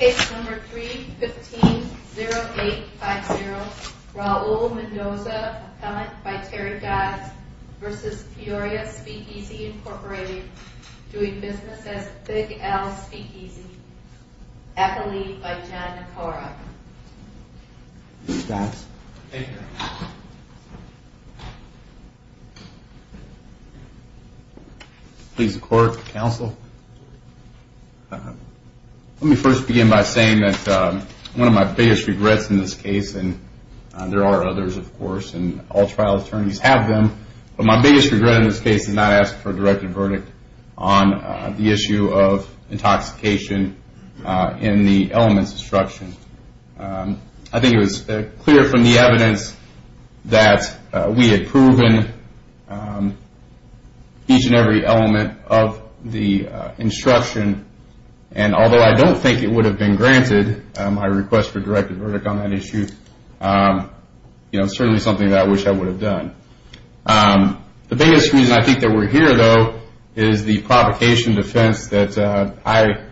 Case number 315-0850, Raul Mendoza, appellant by Terry Dodds v. Peoria Speakeasy, Inc., doing business as Big Al Speakeasy, accolade by John Nakara. Mr. Dodds. Thank you. Please record, counsel. Let me first begin by saying that one of my biggest regrets in this case, and there are others, of course, and all trial attorneys have them, but my biggest regret in this case is not asking for a directed verdict on the issue of intoxication in the elements instruction. I think it was clear from the evidence that we had proven each and every element of the instruction, and although I don't think it would have been granted my request for a directed verdict on that issue, it's certainly something that I wish I would have done. The biggest reason I think that we're here, though, is the provocation defense that I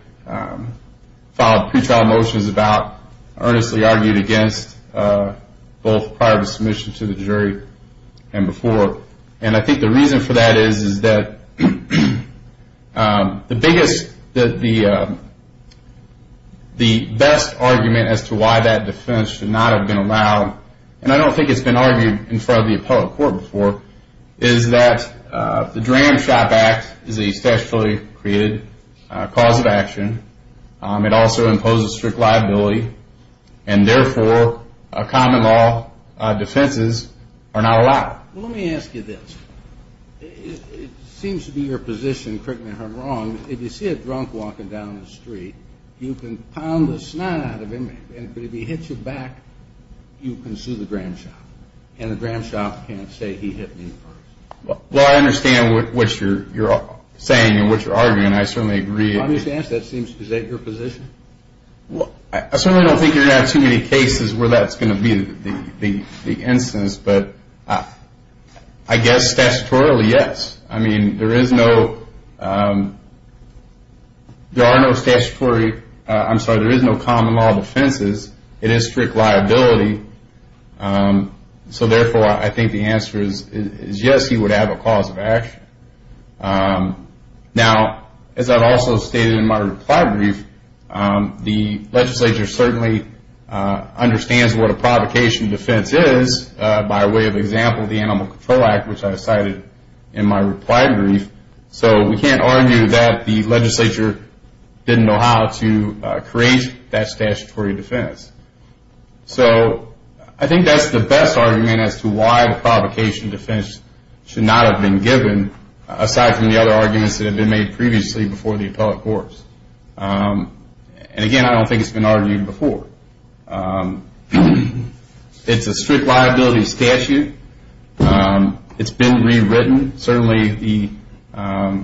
filed pre-trial motions about, earnestly argued against both prior to submission to the jury and before, and I think the reason for that is that the best argument as to why that defense should not have been allowed, and I don't think it's been argued in front of the appellate court before, is that the Dram Shop Act is a statutorily created cause of action. It also imposes strict liability, and therefore, common law defenses are not allowed. Well, let me ask you this. It seems to be your position, correct me if I'm wrong, if you see a drunk walking down the street, you can pound the snot out of him, and if he hits you back, you can sue the Dram Shop, and the Dram Shop can't say he hit me first. Well, I understand what you're saying and what you're arguing, and I certainly agree. The obvious answer to that seems to be that your position. I certainly don't think you're going to have too many cases where that's going to be the instance, but I guess statutorily, yes. I mean, there are no common law defenses. It is strict liability, so therefore, I think the answer is yes, he would have a cause of action. Now, as I've also stated in my reply brief, the legislature certainly understands what a provocation defense is by way of example, the Animal Control Act, which I cited in my reply brief, so we can't argue that the legislature didn't know how to create that statutory defense. So I think that's the best argument as to why the provocation defense should not have been given, aside from the other arguments that have been made previously before the appellate courts. And again, I don't think it's been argued before. It's a strict liability statute. It's been rewritten. Certainly, the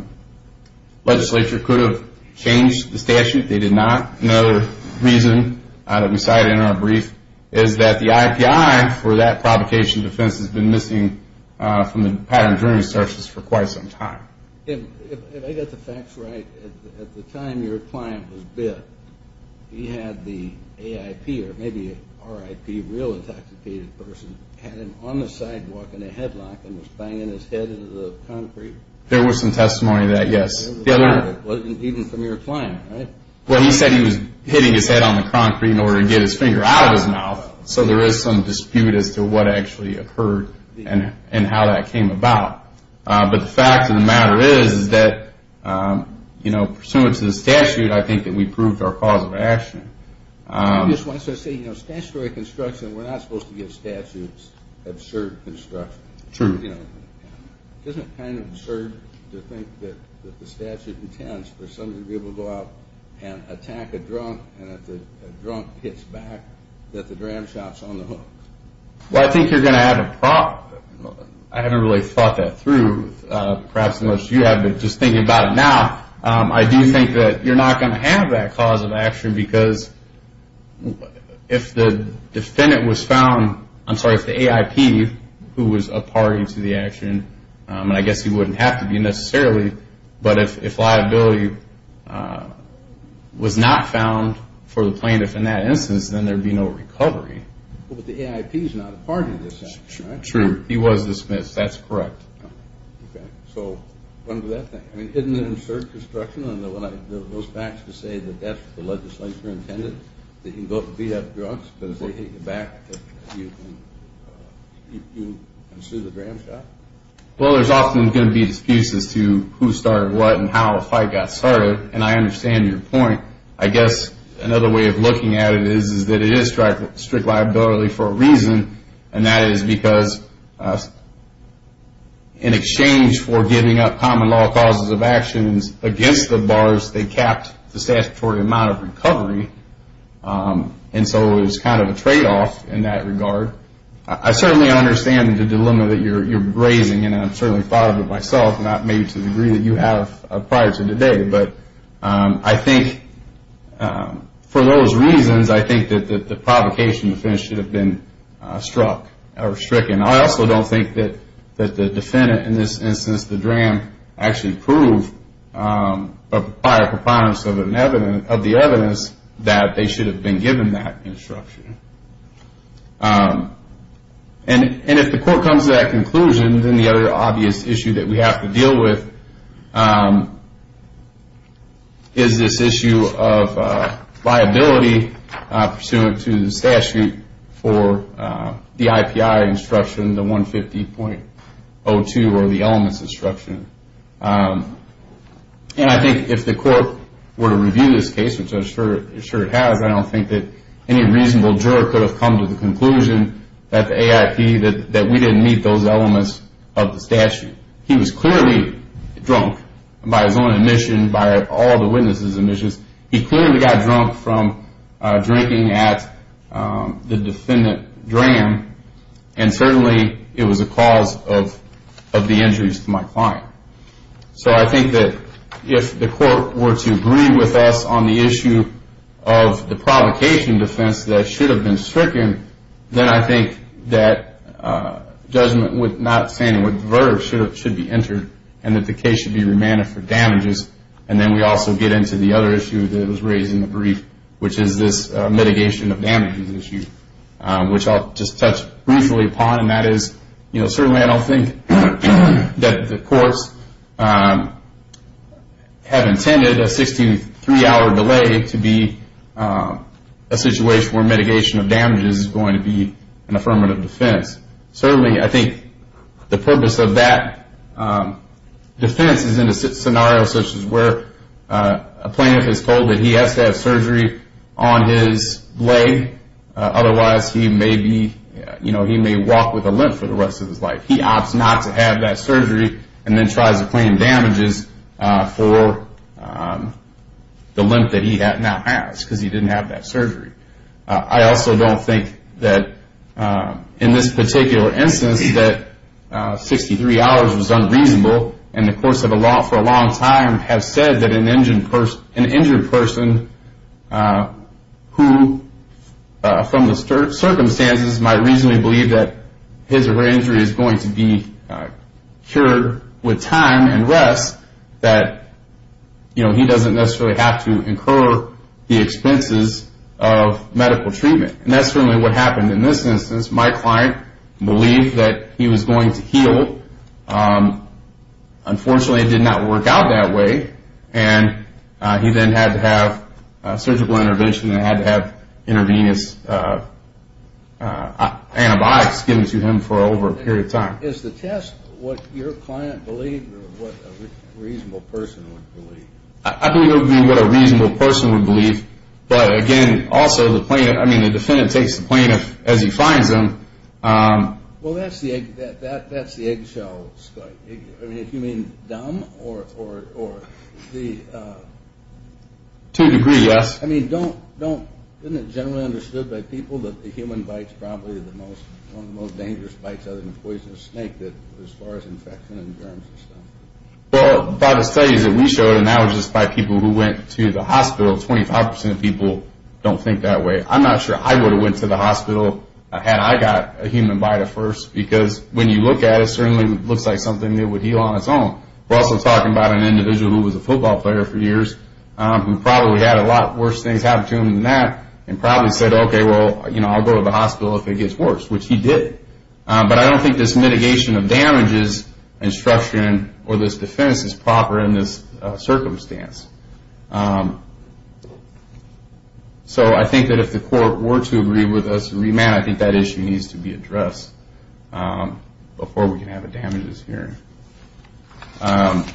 legislature could have changed the statute. They did not. Another reason that we cited in our brief is that the IPI for that provocation defense has been missing from the pattern of jury searches for quite some time. If I got the facts right, at the time your client was bit, he had the AIP or maybe RIP, real intoxicated person, had him on the sidewalk in a headlock and was banging his head into the concrete. There was some testimony to that, yes. It wasn't even from your client, right? Well, he said he was hitting his head on the concrete in order to get his finger out of his mouth, so there is some dispute as to what actually occurred and how that came about. But the fact of the matter is that, you know, pursuant to the statute, I think that we proved our cause of action. I just want to say, you know, statutory construction, we're not supposed to give statutes absurd construction. True. You know, isn't it kind of absurd to think that the statute intends for somebody to be able to go out and attack a drunk and that the drunk hits back, that the dram shop's on the hook? Well, I think you're going to have a problem. I haven't really thought that through, perhaps unless you have, but just thinking about it now, I do think that you're not going to have that cause of action because if the defendant was found, I'm sorry, if the AIP, who was a party to the action, and I guess he wouldn't have to be necessarily, but if liability was not found for the plaintiff in that instance, then there would be no recovery. But the AIP is not a party to this action, right? True. He was dismissed. That's correct. Okay. So under that thing, I mean, isn't it absurd construction, and those facts to say that that's what the legislature intended, that you can go beat up drunks because they hit you back, that you can sue the dram shop? Well, there's often going to be disputes as to who started what and how a fight got started, and I understand your point. I guess another way of looking at it is that it is strict liability for a reason, and that is because in exchange for giving up common law causes of actions against the bars, they capped the statutory amount of recovery, and so it was kind of a tradeoff in that regard. I certainly understand the dilemma that you're raising, and I've certainly thought of it myself, not maybe to the degree that you have prior to today, but I think for those reasons, I think that the provocation defense should have been struck or stricken. I also don't think that the defendant in this instance, the dram, actually proved by a preponderance of the evidence that they should have been given that instruction. And if the court comes to that conclusion, then the other obvious issue that we have to deal with is this issue of liability pursuant to the statute for the IPI instruction, the 150.02 or the elements instruction. And I think if the court were to review this case, which I'm sure it has, I don't think that any reasonable juror could have come to the conclusion that the AIP, that we didn't meet those elements of the statute. He was clearly drunk by his own admission, by all the witnesses' admissions. He clearly got drunk from drinking at the defendant dram, and certainly it was a cause of the injuries to my client. So I think that if the court were to agree with us on the issue of the provocation defense that should have been stricken, then I think that judgment would not stand, and the verdict should be entered, and that the case should be remanded for damages. And then we also get into the other issue that was raised in the brief, which is this mitigation of damages issue, which I'll just touch briefly upon, and that is certainly I don't think that the courts have intended a 63-hour delay to be a situation where mitigation of damages is going to be an affirmative defense. Certainly I think the purpose of that defense is in a scenario such as where a plaintiff is told that he has to have surgery on his leg, otherwise he may walk with a limp for the rest of his life. He opts not to have that surgery and then tries to claim damages for the limp that he now has because he didn't have that surgery. I also don't think that in this particular instance that 63 hours was unreasonable, and the courts have for a long time have said that an injured person who from the circumstances might reasonably believe that his or her injury is going to be cured with time and rest, that he doesn't necessarily have to incur the expenses of medical treatment. And that's certainly what happened in this instance. My client believed that he was going to heal. Unfortunately, it did not work out that way, and he then had to have surgical intervention and had to have intravenous antibiotics given to him for over a period of time. Is the test what your client believed or what a reasonable person would believe? I believe it would be what a reasonable person would believe. But again, also, the defendant takes the plaintiff as he finds them. Well, that's the eggshell, Scott. I mean, if you mean dumb or the... To a degree, yes. I mean, isn't it generally understood by people that the human bite is probably one of the most dangerous bites other than a poisonous snake as far as infection and germs and stuff? Well, by the studies that we showed, and that was just by people who went to the hospital, 25% of people don't think that way. I'm not sure I would have went to the hospital had I got a human bite at first because when you look at it, it certainly looks like something that would heal on its own. We're also talking about an individual who was a football player for years who probably had a lot worse things happen to him than that and probably said, okay, well, you know, I'll go to the hospital if it gets worse, which he did. But I don't think this mitigation of damages instruction or this defense is proper in this circumstance. So I think that if the court were to agree with us to remand, I think that issue needs to be addressed before we can have a damages hearing. I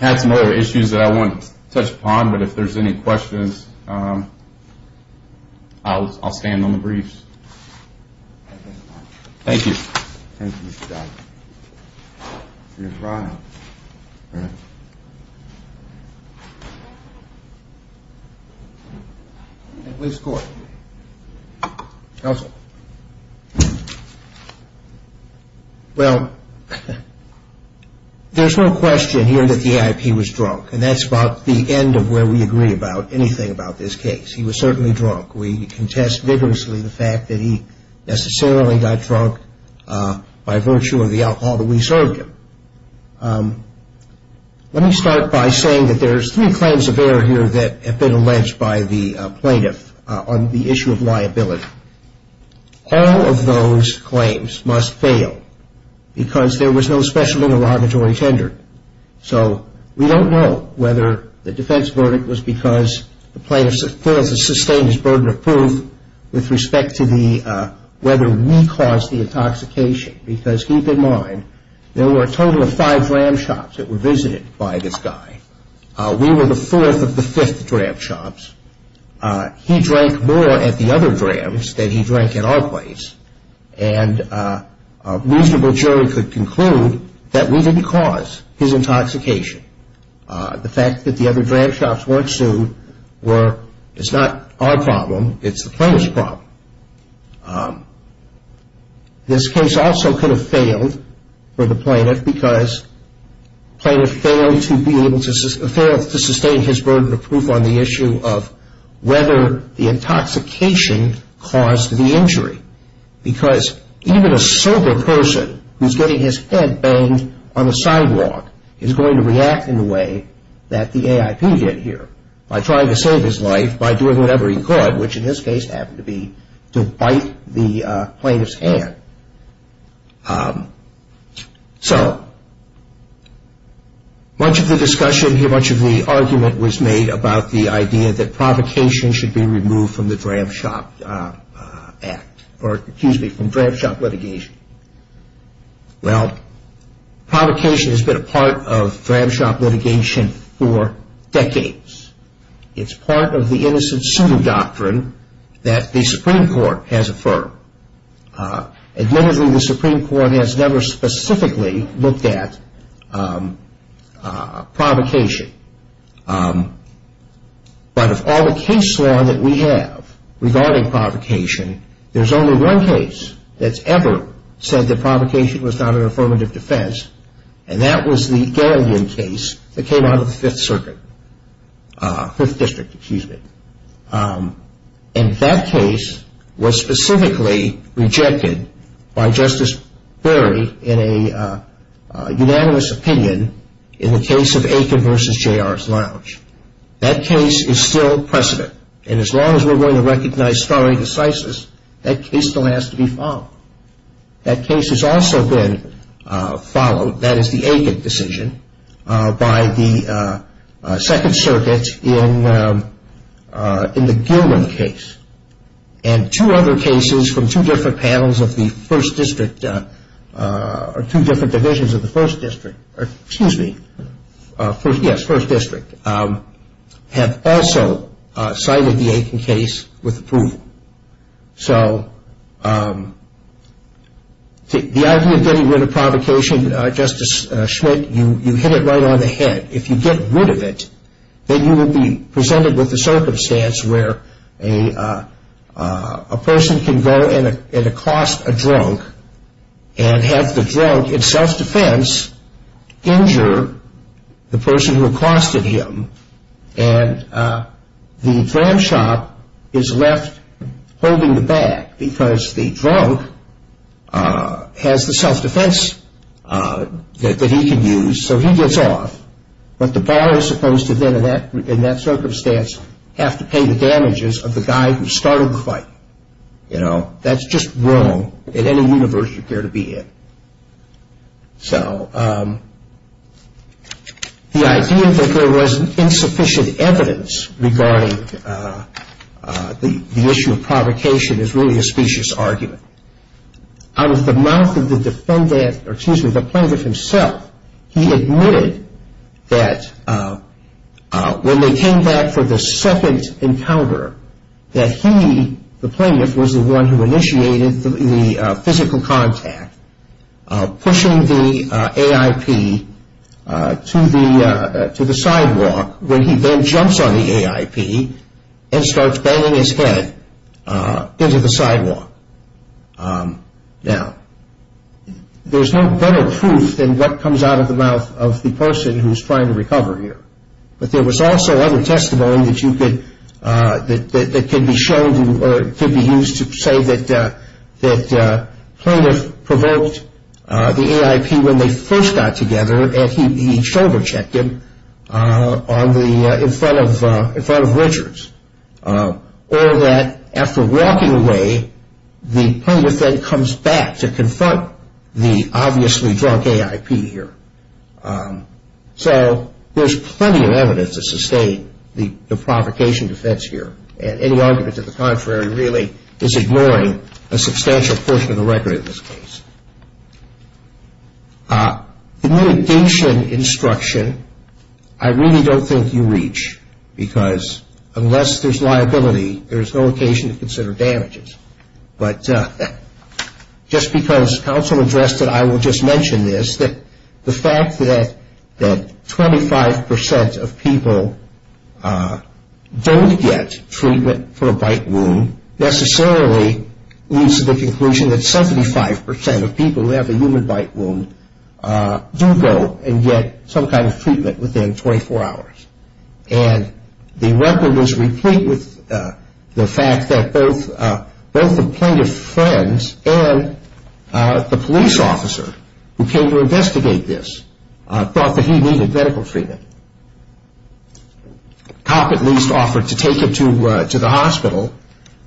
have some other issues that I won't touch upon, but if there's any questions, I'll stand on the briefs. Thank you. Thank you, Mr. Dodd. At least court. Counsel. Well, there's no question here that the AIP was drunk, and that's about the end of where we agree about anything about this case. He was certainly drunk. We contest vigorously the fact that he necessarily got drunk by virtue of the alcohol that we served him. Let me start by saying that there's three claims of error here that have been alleged by the plaintiff on the issue of liability. All of those claims must fail because there was no special interrogatory tender. So we don't know whether the defense verdict was because the plaintiff failed to sustain his burden of proof with respect to whether we caused the intoxication, because keep in mind there were a total of five dram shops that were visited by this guy. We were the fourth of the fifth dram shops. He drank more at the other drams than he drank at our place, and a reasonable jury could conclude that we didn't cause his intoxication. The fact that the other dram shops weren't sued is not our problem, it's the plaintiff's problem. This case also could have failed for the plaintiff because the plaintiff failed to sustain his burden of proof on the issue of whether the intoxication caused the injury. Because even a sober person who's getting his head banged on the sidewalk is going to react in the way that the AIP did here by trying to save his life by doing whatever he could, which in this case happened to be to bite the plaintiff's hand. Much of the discussion here, much of the argument was made about the idea that provocation should be removed from the dram shop act or, excuse me, from dram shop litigation. Well, provocation has been a part of dram shop litigation for decades. It's part of the innocent suing doctrine that the Supreme Court has affirmed. Admittedly, the Supreme Court has never specifically looked at provocation. But of all the case law that we have regarding provocation, there's only one case that's ever said that provocation was not an affirmative defense and that was the Galleon case that came out of the Fifth Circuit, Fifth District, excuse me. And that case was specifically rejected by Justice Perry in a unanimous opinion in the case of Aiken v. J.R.'s Lounge. That case is still precedent. And as long as we're going to recognize stare decisis, that case still has to be followed. That case has also been followed, that is the Aiken decision, by the Second Circuit in the Gilman case. And two other cases from two different panels of the First District, or two different divisions of the First District, excuse me, yes, First District, have also cited the Aiken case with approval. So the idea of getting rid of provocation, Justice Schmidt, you hit it right on the head. If you get rid of it, then you will be presented with a circumstance where a person can go and accost a drunk and have the drunk, in self-defense, injure the person who accosted him, and the drunk shop is left holding the bag because the drunk has the self-defense that he can use, so he gets off. But the bar is supposed to then, in that circumstance, have to pay the damages of the guy who started the fight. You know, that's just wrong in any universe you care to be in. So the idea that there was insufficient evidence regarding the issue of provocation is really a specious argument. Out of the mouth of the defendant, or excuse me, the plaintiff himself, he admitted that when they came back for the second encounter, that he, the plaintiff, was the one who initiated the physical contact by pushing the AIP to the sidewalk, where he then jumps on the AIP and starts banging his head into the sidewalk. Now, there's no better proof than what comes out of the mouth of the person who's trying to recover here. But there was also other testimony that could be used to say that the plaintiff provoked the AIP when they first got together and he shoulder-checked him in front of Richards. Or that after walking away, the plaintiff then comes back to confront the obviously drunk AIP here. So there's plenty of evidence to sustain the provocation defense here. And any argument to the contrary really is ignoring a substantial portion of the record in this case. The mitigation instruction I really don't think you reach because unless there's liability, there's no occasion to consider damages. But just because counsel addressed it, I will just mention this, that the fact that 25% of people don't get treatment for a bite wound necessarily leads to the conclusion that 75% of people who have a human bite wound do go and get some kind of treatment within 24 hours. And the record is replete with the fact that both the plaintiff's friends and the police officer who came to investigate this thought that he needed medical treatment. The cop at least offered to take him to the hospital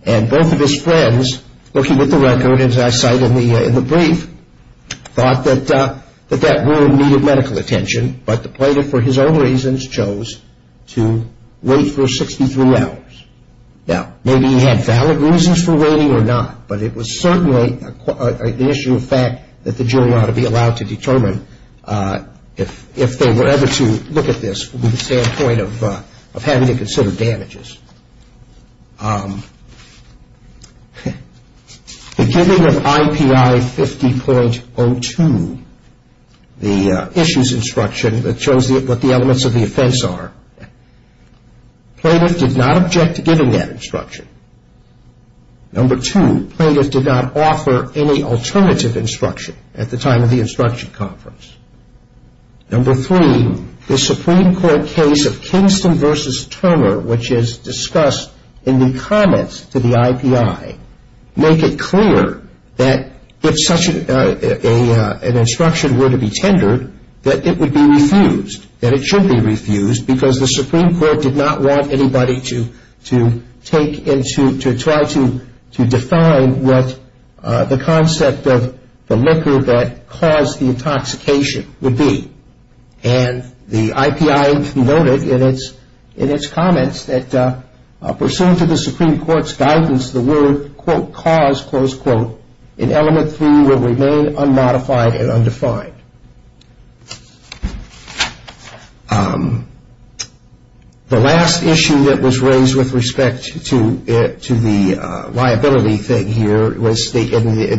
and both of his friends, looking at the record as I cite in the brief, thought that that wound needed medical attention, but the plaintiff for his own reasons chose to wait for 63 hours. Now, maybe he had valid reasons for waiting or not, but it was certainly an issue of fact that the jury ought to be allowed to determine if they were ever to look at this from the standpoint of having to consider damages. The giving of IPI 50.02, the issues instruction that shows what the elements of the offense are, Number two, plaintiff did not offer any alternative instruction at the time of the instruction conference. Number three, the Supreme Court case of Kingston v. Turner, which is discussed in the comments to the IPI, make it clear that if such an instruction were to be tendered, that it would be refused, that it should be refused, because the Supreme Court did not want anybody to try to define what the concept of the liquor that caused the intoxication would be. And the IPI noted in its comments that pursuant to the Supreme Court's guidance, the word, quote, cause, close quote, in element three will remain unmodified and undefined. The last issue that was raised with respect to the liability thing here, in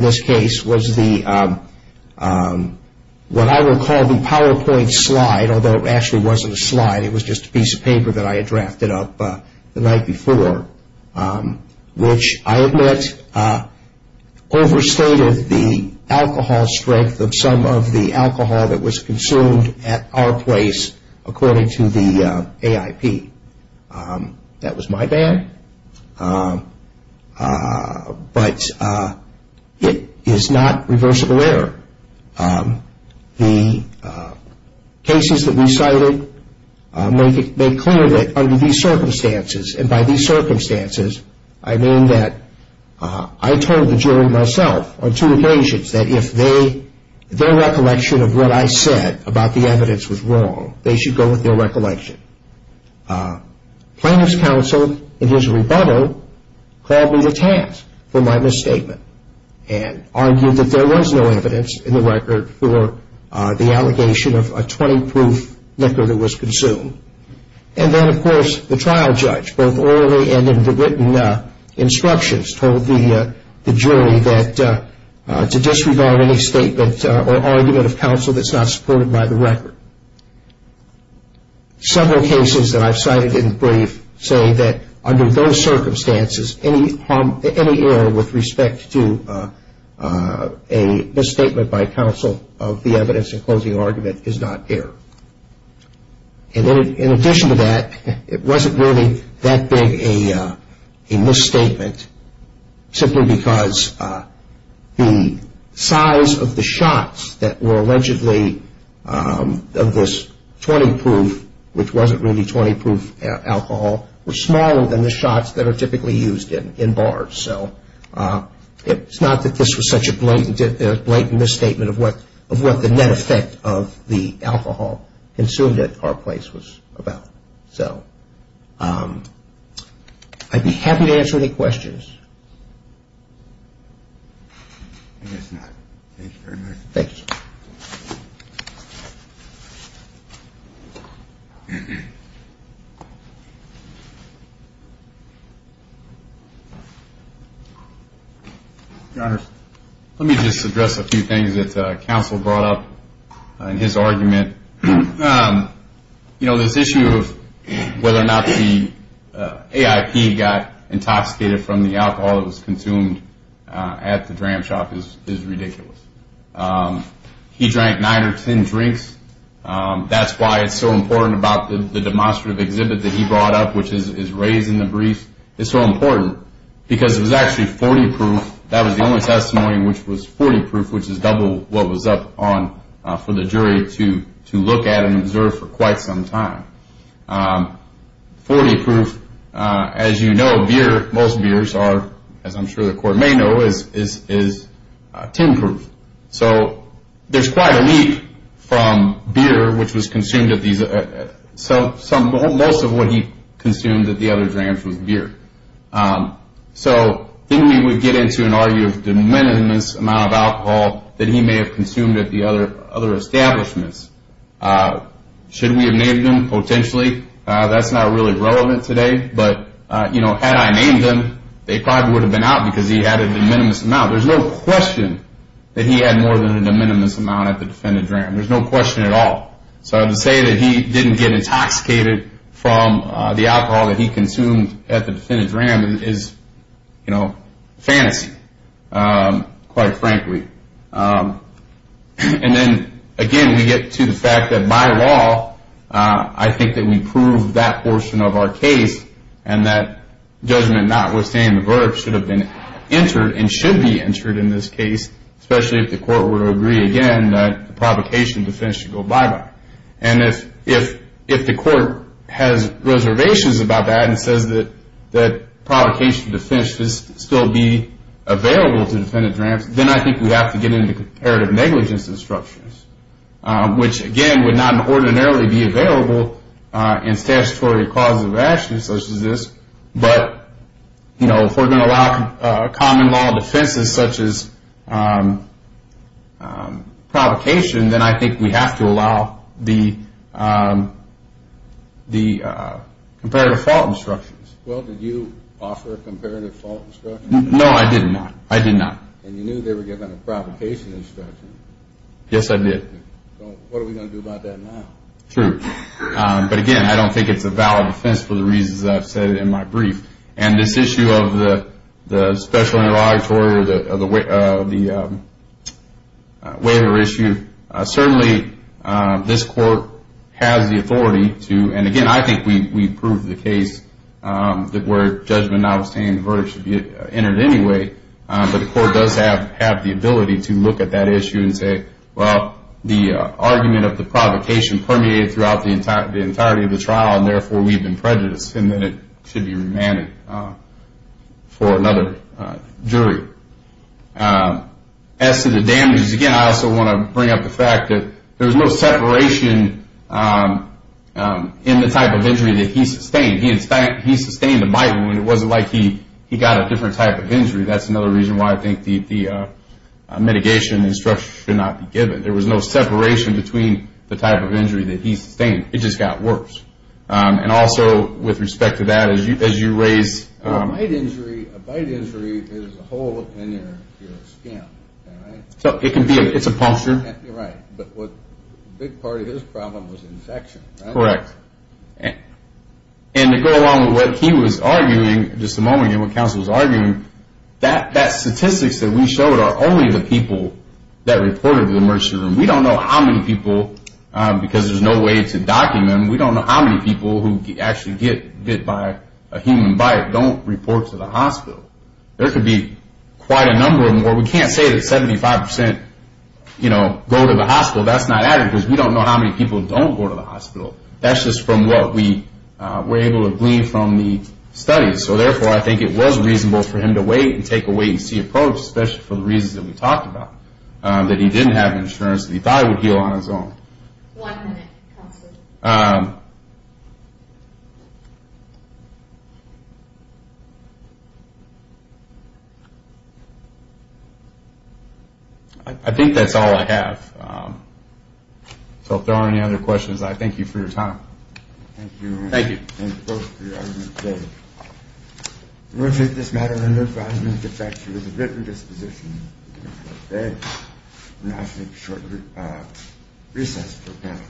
this case, was what I would call the PowerPoint slide, although it actually wasn't a slide, it was just a piece of paper that I had drafted up the night before, which I admit overstated the alcohol strength of some of the alcohol that was consumed at our place, according to the AIP. That was my bad, but it is not reversible error. The cases that we cited made clear that under these circumstances, and by these circumstances, I mean that I told the jury myself, on two occasions, that if their recollection of what I said about the evidence was wrong, they should go with their recollection. Plaintiff's counsel, in his rebuttal, called me to task for my misstatement and argued that there was no evidence in the record for the allegation of a 20-proof liquor that was consumed. And then, of course, the trial judge, both orally and in the written instructions, told the jury that to disregard any statement or argument of counsel that's not supported by the record. Several cases that I've cited in brief say that under those circumstances, any error with respect to a misstatement by counsel of the evidence in closing argument is not error. And in addition to that, it wasn't really that big a misstatement, simply because the size of the shots that were allegedly of this 20-proof, which wasn't really 20-proof alcohol, were smaller than the shots that are typically used in bars. So it's not that this was such a blatant misstatement of what the net effect of the alcohol consumed at our place was about. So, I'd be happy to answer any questions. I guess not. Thank you very much. Thank you. Your Honor, let me just address a few things that counsel brought up in his argument. You know, this issue of whether or not the AIP got intoxicated from the alcohol that was consumed at the dram shop is ridiculous. He drank 9 or 10 drinks. That's why it's so important about the demonstrative exhibit that he brought up, which is raised in the brief. It's so important because it was actually 40-proof. That was the only testimony which was 40-proof, which is double what was up for the jury to look at and observe for quite some time. 40-proof, as you know, most beers are, as I'm sure the Court may know, is 10-proof. So there's quite a leap from beer, which was consumed at these, most of what he consumed at the other drams was beer. So then we would get into an argument of de minimis amount of alcohol that he may have consumed at the other establishments. Should we have named them? Potentially. That's not really relevant today, but, you know, had I named them, they probably would have been out because he had a de minimis amount. There's no question that he had more than a de minimis amount at the defendant dram. There's no question at all. So to say that he didn't get intoxicated from the alcohol that he consumed at the defendant's dram is, you know, fantasy, quite frankly. And then, again, we get to the fact that by law, I think that we prove that portion of our case, and that judgment notwithstanding, the verb should have been entered and should be entered in this case, especially if the Court were to agree again that the provocation of defense should go bye-bye. And if the Court has reservations about that and says that provocation of defense should still be available to defendant drams, then I think we'd have to get into comparative negligence instructions, which, again, would not ordinarily be available in statutory causes of action such as this, but, you know, if we're going to allow common law defenses such as provocation, then I think we have to allow the comparative fault instructions. Well, did you offer a comparative fault instruction? No, I did not. I did not. And you knew they were giving a provocation instruction. Yes, I did. So what are we going to do about that now? True. But, again, I don't think it's a valid defense for the reasons I've said in my brief. And this issue of the special interrogatory or the waiver issue, certainly this Court has the authority to, and, again, I think we proved the case that where judgment notwithstanding, the verb should be entered anyway, but the Court does have the ability to look at that issue and say, well, the argument of the provocation permeated throughout the entirety of the trial, and, therefore, we've been prejudiced, and then it should be remanded for another jury. As to the damages, again, I also want to bring up the fact that there was no separation in the type of injury that he sustained. He sustained a bite wound. It wasn't like he got a different type of injury. That's another reason why I think the mitigation instruction should not be given. There was no separation between the type of injury that he sustained. It just got worse. And, also, with respect to that, as you raise... A bite injury is a hole in your skin, right? It's a puncture. Right. But a big part of his problem was infection, right? And to go along with what he was arguing, just a moment, and what counsel was arguing, that statistics that we showed are only the people that reported to the emergency room. We don't know how many people, because there's no way to document, we don't know how many people who actually get bit by a human bite don't report to the hospital. There could be quite a number of more. We can't say that 75%, you know, go to the hospital. That's not accurate, because we don't know how many people don't go to the hospital. That's just from what we were able to glean from the studies. So, therefore, I think it was reasonable for him to wait, and take a wait-and-see approach, especially for the reasons that we talked about. That he didn't have insurance, and he thought he would heal on his own. One minute. I think that's all I have. So, if there aren't any other questions, I thank you for your time. Thank you. Thank you both for your argument today. I'm going to take this matter under advisement, to the fact that it was a written disposition. I'm going to ask you to make a short recess for the panel.